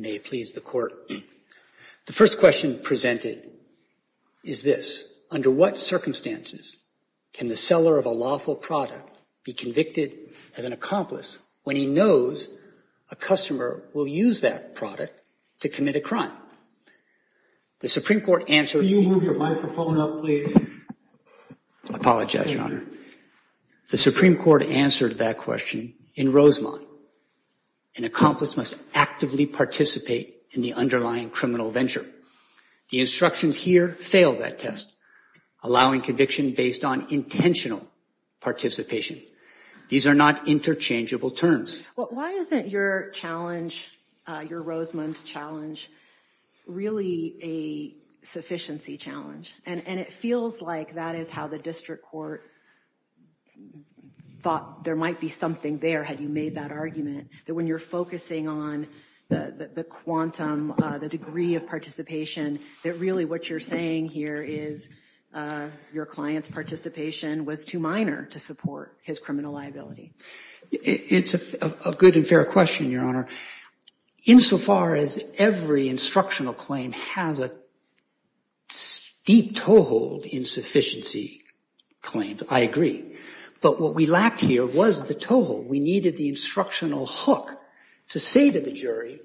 May it please the court. The first question presented is this. Under what circumstances can the seller of a lawful product be convicted as an accomplice or a victim of a crime? When he knows a customer will use that product to commit a crime. The Supreme Court answered. You move your microphone up, please. I apologize, Your Honor. The Supreme Court answered that question in Rosemont. An accomplice must actively participate in the underlying criminal venture. The instructions here fail that test, allowing conviction based on intentional participation. These are not interchangeable terms. Why isn't your challenge, your Rosemont challenge, really a sufficiency challenge? And it feels like that is how the district court thought there might be something there had you made that argument. That when you're focusing on the quantum, the degree of participation, that really what you're saying here is your client's participation was too minor to support his criminal liability. It's a good and fair question, Your Honor. Insofar as every instructional claim has a steep toehold insufficiency claims, I agree. But what we lack here was the toehold. We needed the instructional hook to say to the jury.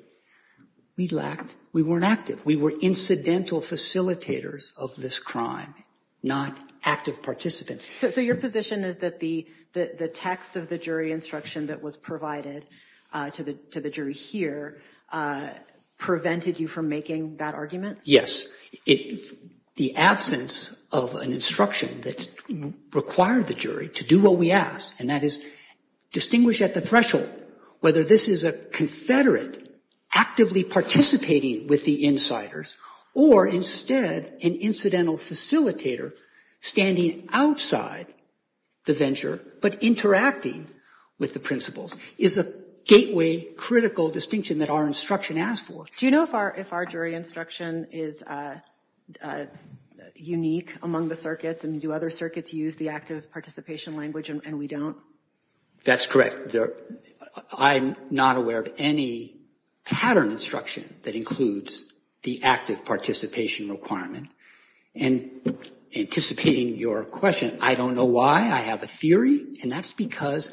We lacked we weren't active. We were incidental facilitators of this crime, not active participants. So your position is that the the text of the jury instruction that was provided to the to the jury here prevented you from making that argument? Yes. It's the absence of an instruction that's required the jury to do what we asked. And that is distinguish at the threshold whether this is a confederate actively participating with the insiders or instead an incidental facilitator standing outside the venture but interacting with the principles is a gateway critical distinction that our instruction asked for. Do you know if our if our jury instruction is unique among the circuits and do other circuits use the active participation language and we don't? That's correct. I'm not aware of any pattern instruction that includes the active participation requirement. And anticipating your question, I don't know why I have a theory. And that's because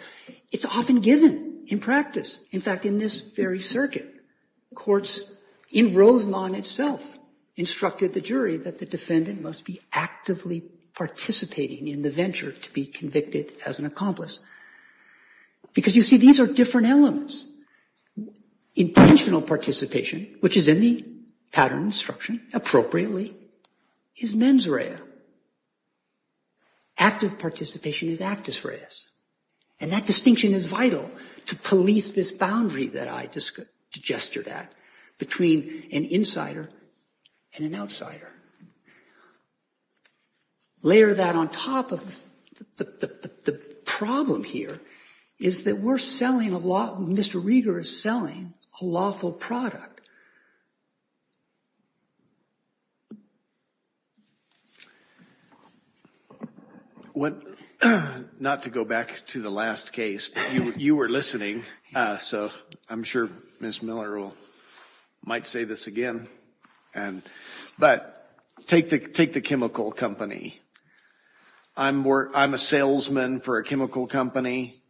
it's often given in practice. In fact, in this very circuit courts in Rosemont itself instructed the jury that the defendant must be actively participating in the venture to be convicted as an accomplice. Because you see, these are different elements. Intentional participation, which is in the pattern instruction appropriately, is mens rea. Active participation is actus reus. And that distinction is vital to police this boundary that I just gestured at between an insider and an outsider. Layer that on top of the problem here is that we're selling a lot. Mr. Reader is selling a lawful product. What not to go back to the last case, you were listening. So I'm sure Ms. Miller will might say this again and but take the take the chemical company. I'm a salesman for a chemical company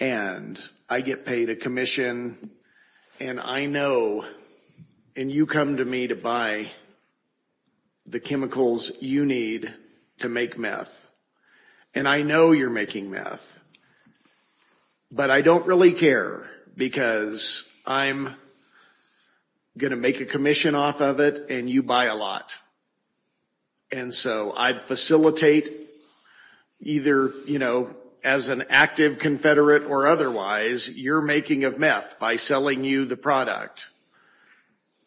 and I get paid a commission and I know and you come to me to buy the chemicals you need to make meth and I know you're making meth. But I don't really care because I'm going to make a commission off of it and you buy a lot. And so I'd facilitate either, you know, as an active Confederate or otherwise, you're making of meth by selling you the product.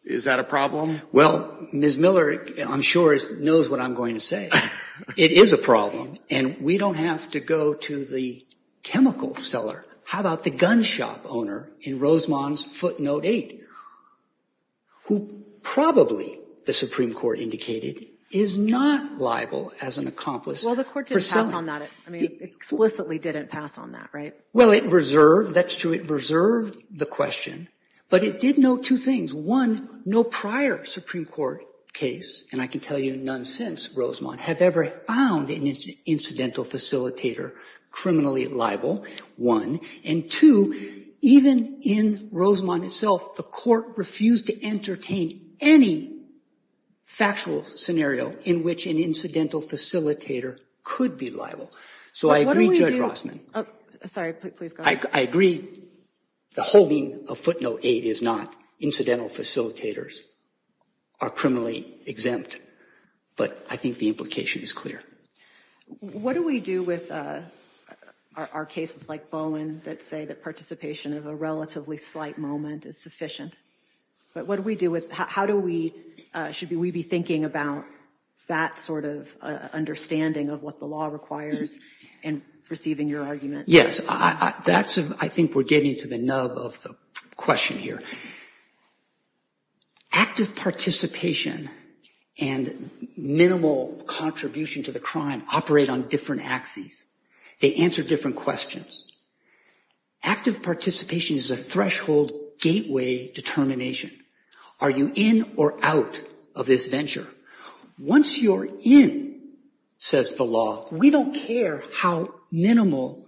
Is that a problem? Well, Ms. Miller, I'm sure, knows what I'm going to say. It is a problem. And we don't have to go to the chemical seller. How about the gun shop owner in Rosemont's footnote 8? Who probably the Supreme Court indicated is not liable as an accomplice. Well, the court just passed on that. I mean, explicitly didn't pass on that. Right. Well, it reserved. That's true. It reserved the question. But it did know two things. One, no prior Supreme Court case. And I can tell you, none since Rosemont have ever found an incidental facilitator criminally liable. One. And two, even in Rosemont itself, the court refused to entertain any factual scenario in which an incidental facilitator could be liable. So I agree, Judge Rossman. I agree. The holding of footnote 8 is not incidental facilitators are criminally exempt. But I think the implication is clear. What do we do with our cases like Bowen that say that participation of a relatively slight moment is sufficient? But what do we do with how do we should we be thinking about that sort of understanding of what the law requires and receiving your argument? Yes, that's I think we're getting to the nub of the question here. Active participation and minimal contribution to the crime operate on different axes. They answer different questions. Active participation is a threshold gateway determination. Are you in or out of this venture? Once you're in, says the law, we don't care how minimal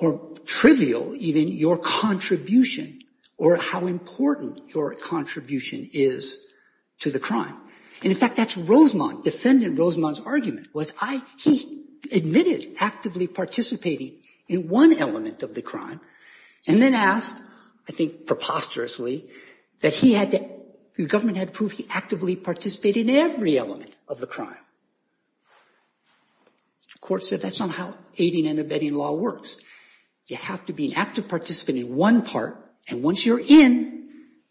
or trivial even your contribution or how important your contribution is to the crime. And in fact, that's Rosemont. Defendant Rosemont's argument was I he admitted actively participating in one element of the crime and then asked, I think preposterously, that he had the government had to prove he actively participated in the crime. The court said that's not how aiding and abetting law works. You have to be an active participant in one part. And once you're in,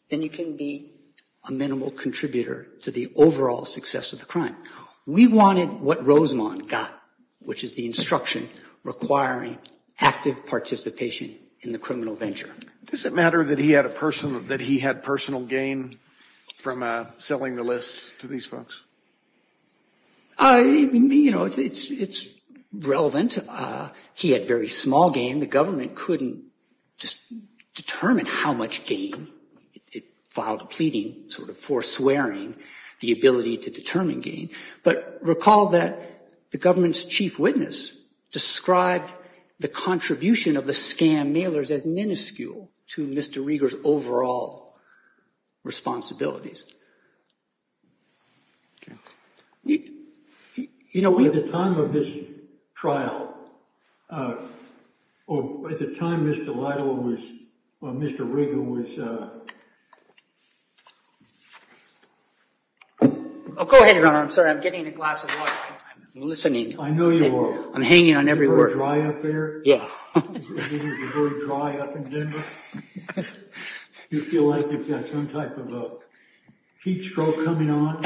then you can be a minimal contributor to the overall success of the crime. We wanted what Rosemont got, which is the instruction requiring active participation in the criminal venture. Does it matter that he had a personal that he had personal gain from selling the list to these folks? I mean, you know, it's it's it's relevant. He had very small gain. The government couldn't just determine how much gain it filed a pleading sort of foreswearing the ability to determine gain. But recall that the government's chief witness described the contribution of the scam mailers as minuscule to Mr. Rieger's overall responsibilities. You know, at the time of this trial or at the time, Mr. Lytle was Mr. Rieger was. Oh, go ahead. I'm sorry. I'm getting a glass of water. I'm listening. I know you are. I'm hanging on every word. Dry up there. Yeah. You feel like you've got some type of a heat stroke coming on?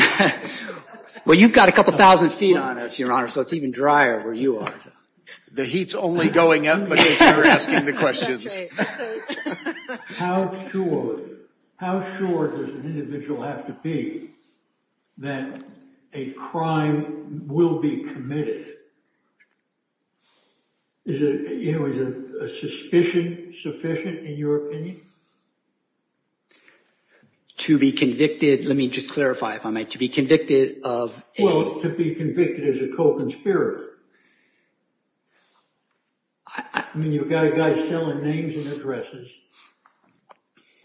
Well, you've got a couple thousand feet on us, your honor. So it's even drier where you are. The heat's only going up, but you're asking the questions. How sure how sure does an individual have to be that a crime will be committed? Is it a suspicion sufficient in your opinion? To be convicted. Let me just clarify, if I might, to be convicted of. Well, to be convicted as a co-conspirator. I mean, you've got a guy selling names and addresses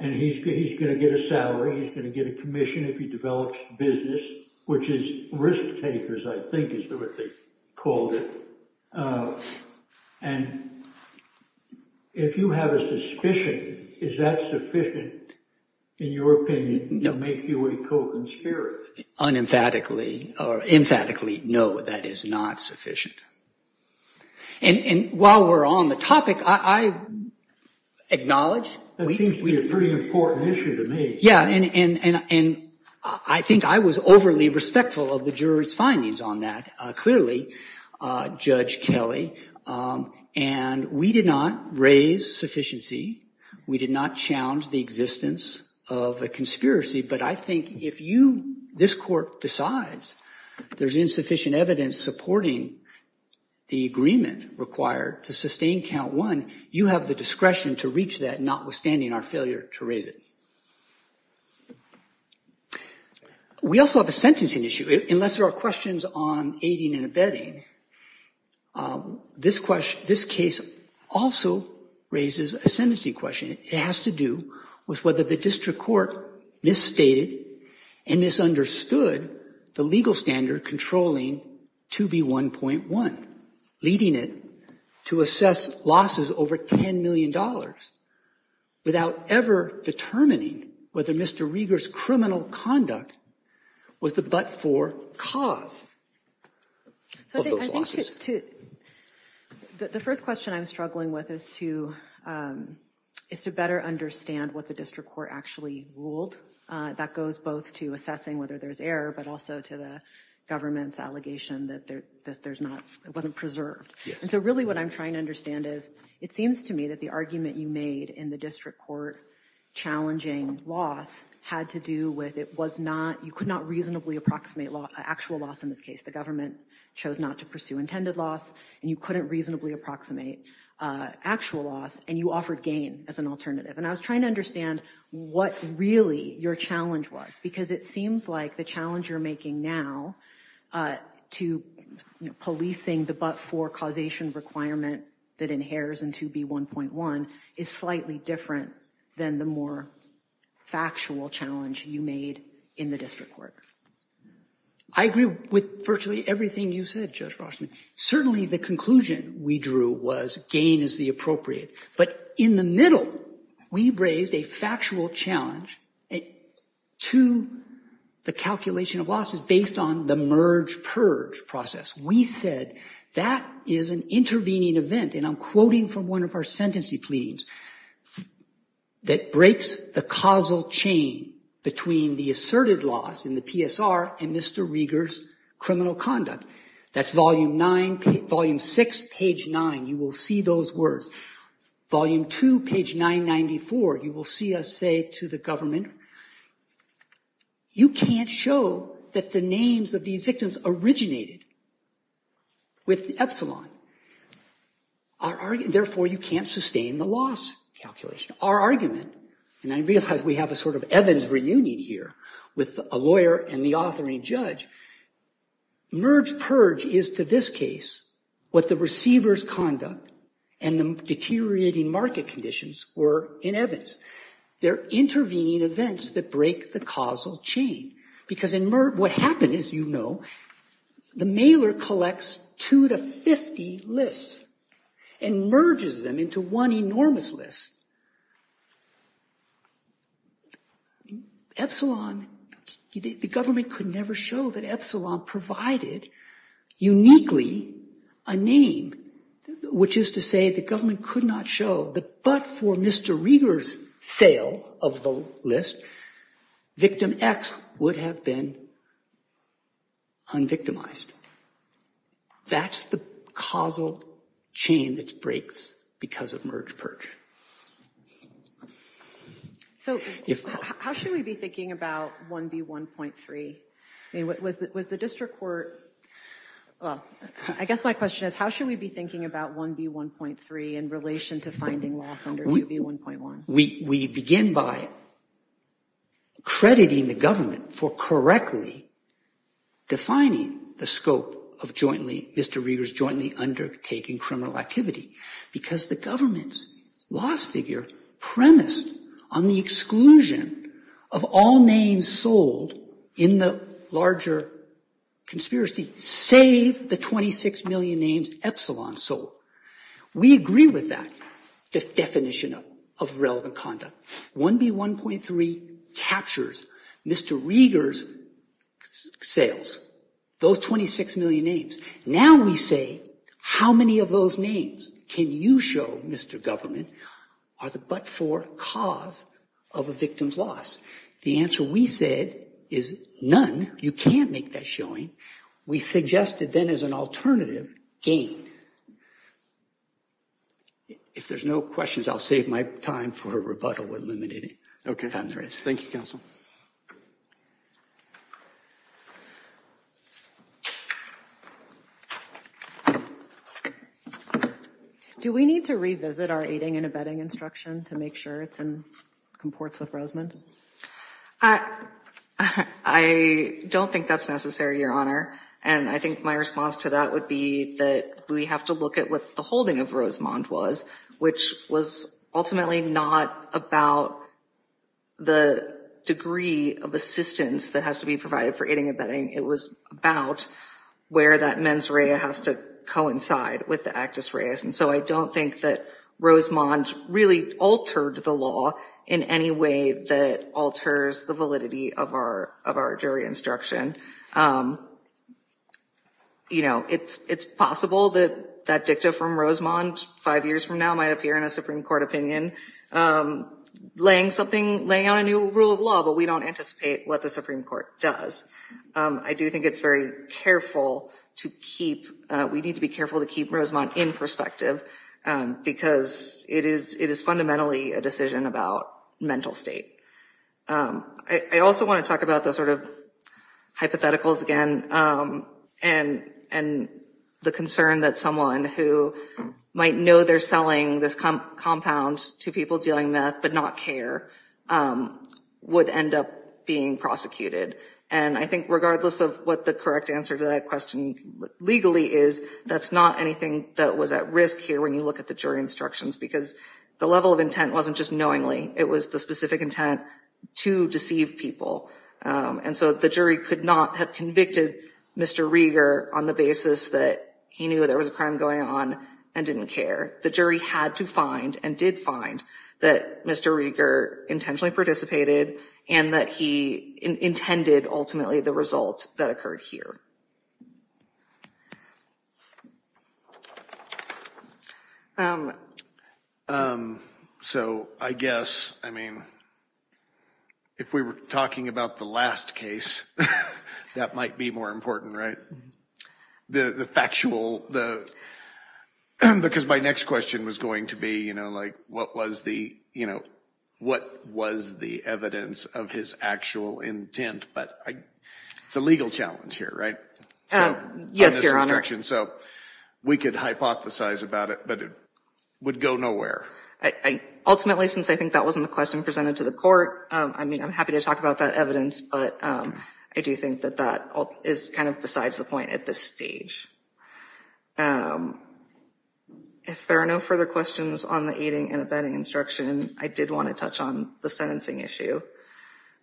and he's going to get a salary. He's going to get a commission if he develops business, which is risk takers, I think is what they called it. And if you have a suspicion, is that sufficient in your opinion to make you a co-conspirator? Unemphatically or emphatically, no, that is not sufficient. And while we're on the topic, I acknowledge that seems to be a pretty important issue to me. Yeah. And I think I was overly respectful of the jury's findings on that. Clearly, Judge Kelly and we did not raise sufficiency. We did not challenge the existence of a conspiracy. But I think if you this court decides there's insufficient evidence supporting the agreement required to sustain count one, you have the discretion to reach that, notwithstanding our failure to raise it. We also have a sentencing issue, unless there are questions on aiding and abetting. This question, this case also raises a sentencing question. It has to do with whether the district court misstated and misunderstood the legal standard controlling to be one point one, leading it to assess losses over ten million dollars without ever determining whether Mr. Rieger's criminal conduct was the but for cause of those losses. The first question I'm struggling with is to is to better understand what the district court actually ruled. That goes both to assessing whether there's error, but also to the government's allegation that there's there's not it wasn't preserved. And so really what I'm trying to understand is it seems to me that the argument you made in the district court challenging loss had to do with it was not you could not reasonably approximate actual loss in this case. The government chose not to pursue intended loss and you couldn't reasonably approximate actual loss. And you offered gain as an alternative. And I was trying to understand what really your challenge was, because it seems like the challenge you're making now to policing the but for causation requirement that inheres into be one point one is slightly different than the more factual challenge you made in the district court. I agree with virtually everything you said. Certainly, the conclusion we drew was gain is the appropriate. But in the middle, we've raised a factual challenge to the calculation of losses based on the merge purge process. We said that is an intervening event. And I'm quoting from one of our sentencing pleadings that breaks the causal chain between the asserted loss in the PSR and Mr. Rieger's criminal conduct. That's volume nine, volume six, page nine. You will see those words. Volume two, page 994. You will see us say to the government, you can't show that the names of these victims originated with epsilon. Therefore, you can't sustain the loss calculation. Our argument, and I realize we have a sort of Evans reunion here with a lawyer and the authoring judge, merge purge is to this case what the receiver's conduct and the deteriorating market conditions were in Evans. They're intervening events that break the causal chain. Because what happened is, you know, the mailer collects two to 50 lists and merges them into one enormous list. Epsilon, the government could never show that epsilon provided uniquely a name, which is to say the government could not show that but for Mr. Rieger's sale of the list, victim X would have been unvictimized. That's the causal chain that breaks because of merge purge. So how should we be thinking about 1B1.3? Was the district court, I guess my question is how should we be thinking about 1B1.3 in relation to finding loss under 2B1.1? We begin by crediting the government for correctly defining the scope of Mr. Rieger's jointly undertaking criminal activity. Because the government's loss figure premised on the exclusion of all names sold in the larger conspiracy, save the 26 million names Epsilon sold. We agree with that definition of relevant conduct. 1B1.3 captures Mr. Rieger's sales, those 26 million names. Now we say how many of those names can you show, Mr. Government, are the but-for cause of a victim's loss? The answer we said is none. You can't make that showing. We suggested then as an alternative, gain. If there's no questions, I'll save my time for rebuttal. Thank you, counsel. Do we need to revisit our aiding and abetting instruction to make sure it's in comports with Rosemond? I don't think that's necessary, Your Honor. And I think my response to that would be that we have to look at what the holding of Rosemond was, which was ultimately not about the degree of assistance that has to be provided for aiding and abetting. It was about where that mens rea has to coincide with the actus reas. And so I don't think that Rosemond really altered the law in any way that alters the validity of our jury instruction. It's possible that that dicta from Rosemond five years from now might appear in a Supreme Court opinion, laying out a new rule of law, but we don't anticipate what the Supreme Court does. I do think it's very careful to keep, we need to be careful to keep Rosemond in perspective, because it is fundamentally a decision about mental state. I also want to talk about the sort of hypotheticals again, and the concern that someone who might know they're selling this compound to people dealing meth, but not care, would end up being prosecuted. And I think regardless of what the correct answer to that question legally is, that's not anything that was at risk here when you look at the jury instructions, because the level of intent wasn't just knowingly, it was the specific intent to deceive people. And so the jury could not have convicted Mr. Rieger on the basis that he knew there was a crime going on and didn't care. The jury had to find and did find that Mr. Rieger intentionally participated, and that he intended ultimately the results that occurred here. So I guess, I mean, if we were talking about the last case, that might be more important, right? Because my next question was going to be, you know, like, what was the evidence of his actual intent? But it's a legal challenge here, right? Yes, Your Honor. So we could hypothesize about it, but it would go nowhere. Ultimately, since I think that wasn't the question presented to the court, I mean, I'm happy to talk about that evidence, but I do think that that is kind of besides the point at this stage. If there are no further questions on the aiding and abetting instruction, I did want to touch on the sentencing issue.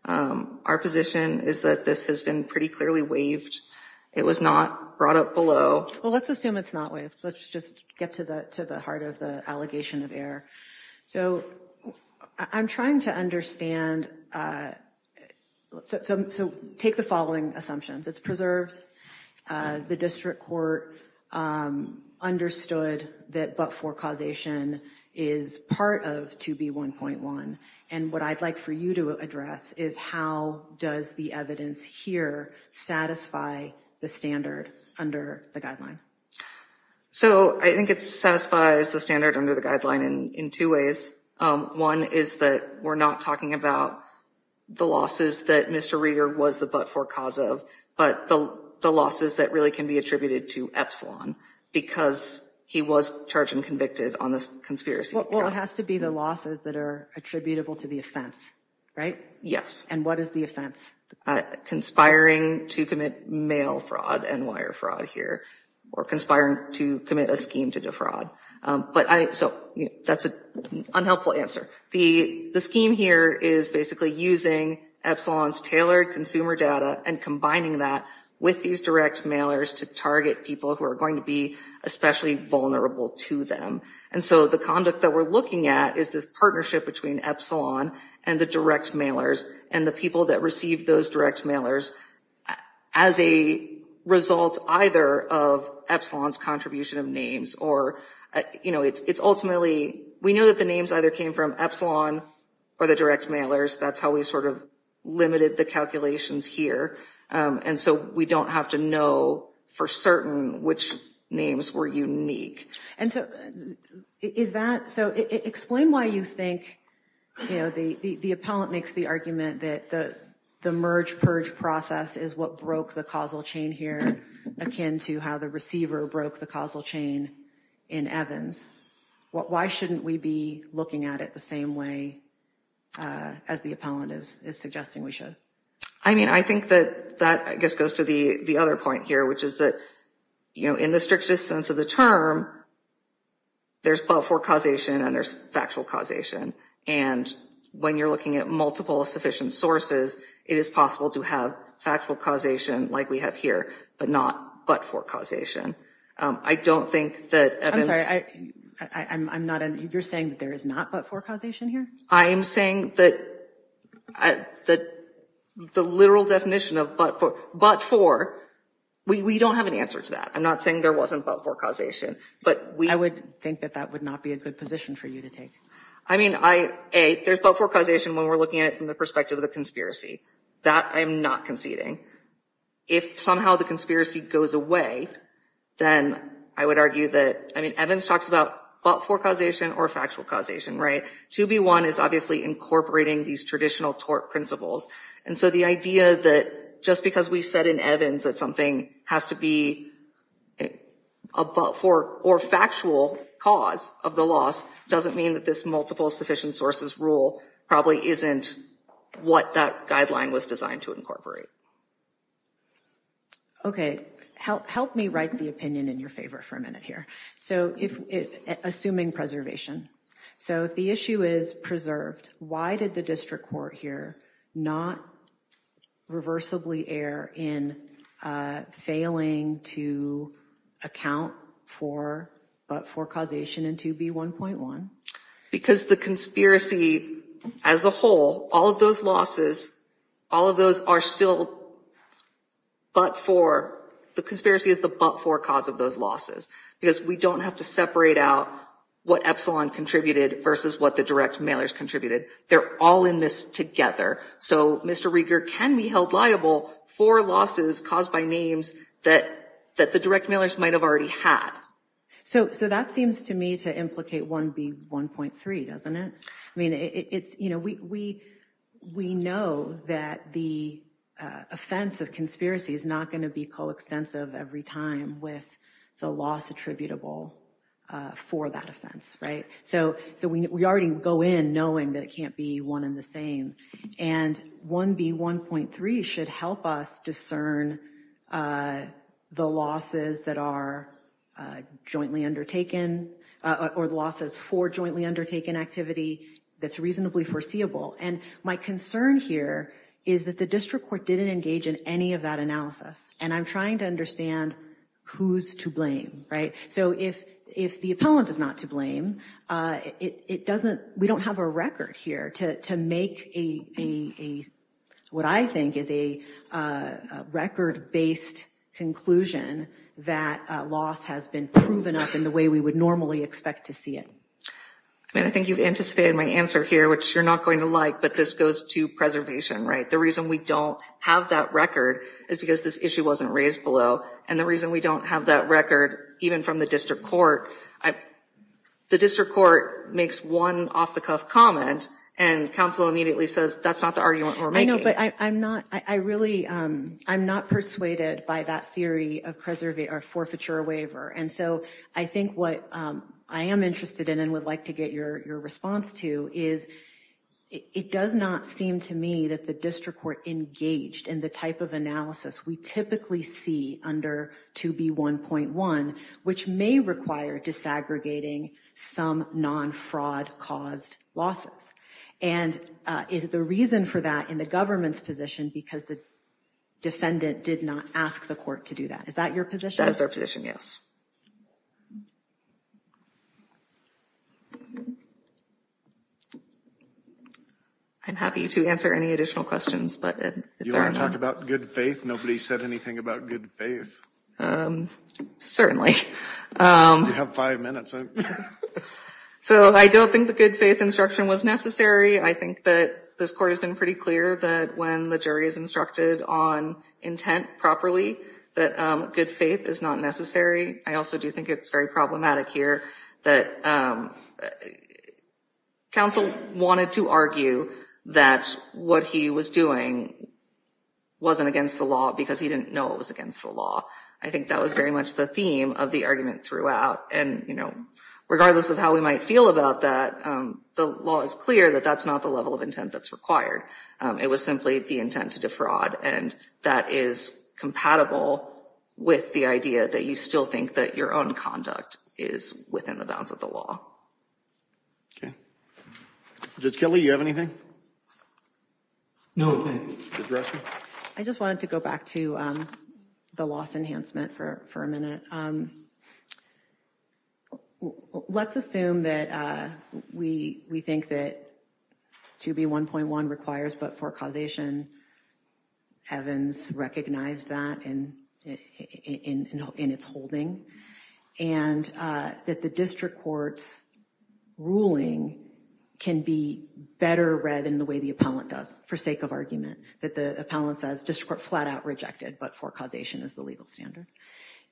Our position is that this has been pretty clearly waived. It was not brought up below. Well, let's assume it's not waived. Let's just get to the heart of the allegation of error. So I'm trying to understand. So take the following assumptions. It's preserved. The district court understood that but-for causation is part of 2B1.1. And what I'd like for you to address is how does the evidence here satisfy the standard under the guideline? So I think it satisfies the standard under the guideline in two ways. One is that we're not talking about the losses that Mr. Rieger was the but-for cause of, but the losses that really can be attributed to Epsilon because he was charged and convicted on this conspiracy. Well, it has to be the losses that are attributable to the offense, right? Yes. And what is the offense? Conspiring to commit mail fraud and wire fraud here or conspiring to commit a scheme to defraud. So that's an unhelpful answer. The scheme here is basically using Epsilon's tailored consumer data and combining that with these direct mailers to target people who are going to be especially vulnerable to them. And so the conduct that we're looking at is this partnership between Epsilon and the direct mailers and the people that receive those direct mailers as a result either of Epsilon's contribution of names or, you know, it's ultimately we know that the names either came from Epsilon or the direct mailers. That's how we sort of limited the calculations here. And so we don't have to know for certain which names were unique. And so is that so explain why you think, you know, the appellant makes the argument that the merge purge process is what broke the causal chain here, akin to how the receiver broke the causal chain in Evans. Why shouldn't we be looking at it the same way as the appellant is suggesting we should? I mean, I think that that I guess goes to the other point here, which is that, you know, in the strictest sense of the term. There's but for causation and there's factual causation. And when you're looking at multiple sufficient sources, it is possible to have factual causation like we have here, but not but for causation. I don't think that I'm not. You're saying there is not but for causation here. I am saying that the literal definition of but for but for we don't have an answer to that. I'm not saying there wasn't but for causation, but we would think that that would not be a good position for you to take. I mean, I there's but for causation when we're looking at it from the perspective of the conspiracy that I'm not conceding. If somehow the conspiracy goes away, then I would argue that. I mean, Evans talks about but for causation or factual causation. Right. To be one is obviously incorporating these traditional tort principles. And so the idea that just because we said in Evans that something has to be a but for or factual cause of the loss doesn't mean that this multiple sufficient sources rule probably isn't what that guideline was designed to incorporate. OK, help me write the opinion in your favor for a minute here. So if assuming preservation, so if the issue is preserved, why did the district court here not reversibly err in failing to account for but for causation and to be one point one? Because the conspiracy as a whole, all of those losses, all of those are still. But for the conspiracy is the but for cause of those losses, because we don't have to separate out what Epsilon contributed versus what the direct mailers contributed. They're all in this together. So, Mr. Rieger can be held liable for losses caused by names that that the direct mailers might have already had. So so that seems to me to implicate one be one point three, doesn't it? I mean, it's you know, we we we know that the offense of conspiracy is not going to be coextensive every time with the loss attributable for that offense. Right. So so we already go in knowing that it can't be one in the same. And one be one point three should help us discern the losses that are jointly undertaken or the losses for jointly undertaken activity that's reasonably foreseeable. And my concern here is that the district court didn't engage in any of that analysis. And I'm trying to understand who's to blame. Right. So if if the appellant is not to blame, it doesn't. We don't have a record here to make a what I think is a record based conclusion that loss has been proven up in the way we would normally expect to see it. I mean, I think you've anticipated my answer here, which you're not going to like, but this goes to preservation. Right. The reason we don't have that record is because this issue wasn't raised below. And the reason we don't have that record, even from the district court, the district court makes one off the cuff comment and counsel immediately says that's not the argument. I know, but I'm not I really I'm not persuaded by that theory of preservation or forfeiture waiver. And so I think what I am interested in and would like to get your response to is it does not seem to me that the district court engaged in the type of analysis we typically see under 2B1.1, which may require disaggregating some non-fraud caused losses. And is the reason for that in the government's position, because the defendant did not ask the court to do that? Is that your position? That is our position. Yes. I'm happy to answer any additional questions, but you want to talk about good faith. Nobody said anything about good faith. Certainly. You have five minutes. So I don't think the good faith instruction was necessary. I think that this court has been pretty clear that when the jury is instructed on intent properly, that good faith is not necessary. I also do think it's very problematic here that counsel wanted to argue that what he was doing wasn't against the law because he didn't know it was against the law. I think that was very much the theme of the argument throughout. And, you know, regardless of how we might feel about that, the law is clear that that's not the level of intent that's required. It was simply the intent to defraud. And that is compatible with the idea that you still think that your own conduct is within the bounds of the law. OK. Judge Kelly, you have anything? No. I just wanted to go back to the loss enhancement for a minute. Let's assume that we we think that to be one point one requires but for causation. Evans recognized that and in its holding and that the district court's ruling can be better read in the way the appellant does for sake of argument that the appellant says just flat out rejected. But for causation is the legal standard.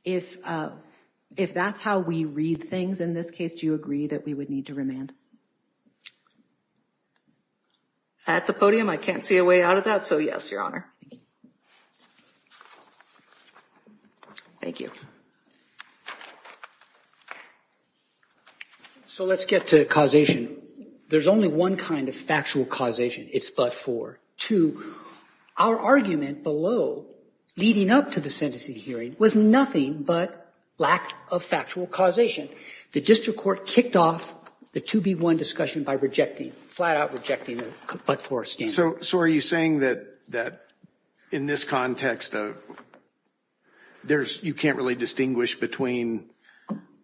If if that's how we read things in this case, do you agree that we would need to remand? At the podium, I can't see a way out of that. So, yes, your honor. Thank you. So let's get to causation. There's only one kind of factual causation. It's but for two. Our argument below leading up to the sentencing hearing was nothing but lack of factual causation. The district court kicked off the to be one discussion by rejecting flat out rejecting. But for so. So are you saying that that in this context. There's you can't really distinguish between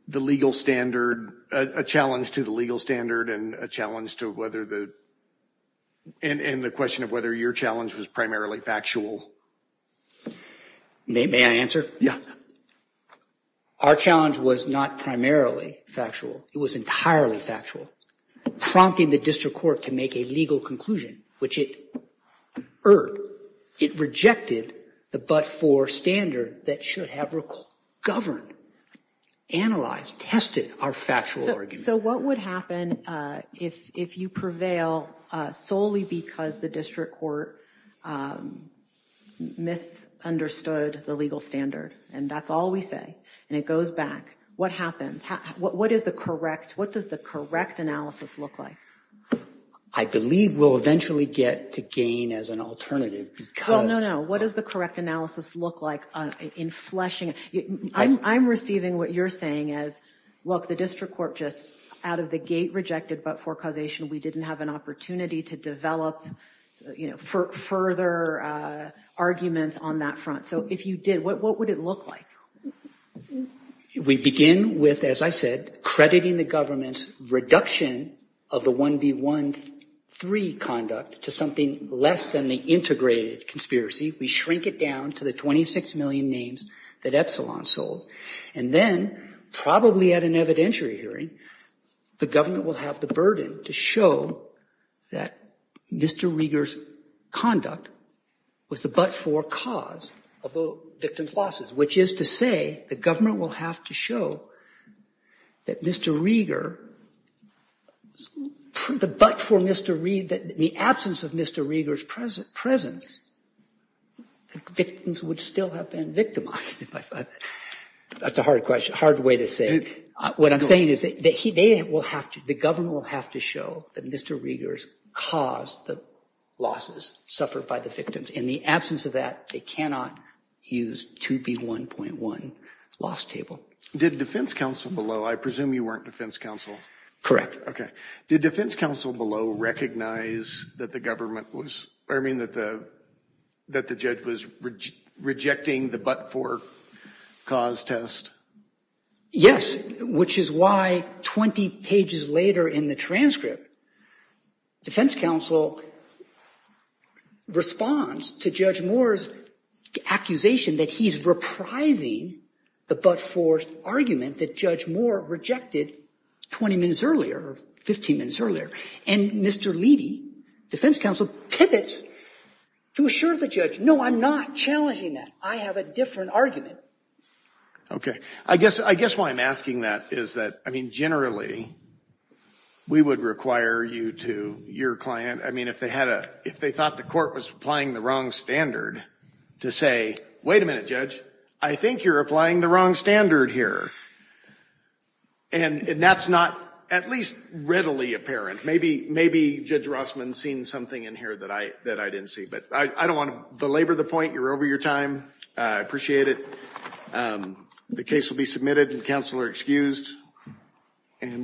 the legal standard, a challenge to the legal standard and a challenge to whether the. And the question of whether your challenge was primarily factual. May I answer? Yeah. Our challenge was not primarily factual. It was entirely factual, prompting the district court to make a legal conclusion, which it earned. It rejected the but for standard that should have governed, analyzed, tested our factual. So what would happen if you prevail solely because the district court misunderstood the legal standard? And that's all we say. And it goes back. What happens? What is the correct? What does the correct analysis look like? I believe we'll eventually get to gain as an alternative. Well, no, no. What is the correct analysis look like in fleshing? I'm receiving what you're saying is, look, the district court just out of the gate rejected. But for causation, we didn't have an opportunity to develop further arguments on that front. So if you did, what would it look like? We begin with, as I said, crediting the government's reduction of the one B one three conduct to something less than the integrated conspiracy. We shrink it down to the 26 million names that Epsilon sold. And then probably at an evidentiary hearing, the government will have the burden to show that Mr. Rieger's conduct was the but for cause of the victim's losses, which is to say the government will have to show that Mr. Rieger, the but for Mr. Reed, that the absence of Mr. Rieger's present presence, victims would still have been victimized. That's a hard question. Hard way to say what I'm saying is that he will have to. The government will have to show that Mr. Rieger's caused the losses suffered by the victims in the absence of that. They cannot use to be one point one loss table. Did defense counsel below I presume you weren't defense counsel. Correct. OK. Did defense counsel below recognize that the government was I mean that the that the judge was rejecting the but for cause test? Yes. Which is why 20 pages later in the transcript. Defense counsel responds to Judge Moore's accusation that he's reprising the but for argument that Judge Moore rejected 20 minutes earlier, 15 minutes earlier. And Mr. Levy defense counsel pivots to assure the judge. No, I'm not challenging that. I have a different argument. OK, I guess I guess why I'm asking that is that I mean, generally, we would require you to your client. I mean, if they had a if they thought the court was applying the wrong standard to say, wait a minute, judge, I think you're applying the wrong standard here. And that's not at least readily apparent. Maybe maybe Judge Rossman seen something in here that I that I didn't see. But I don't want to belabor the point. You're over your time. I appreciate it. The case will be submitted and counselor excused.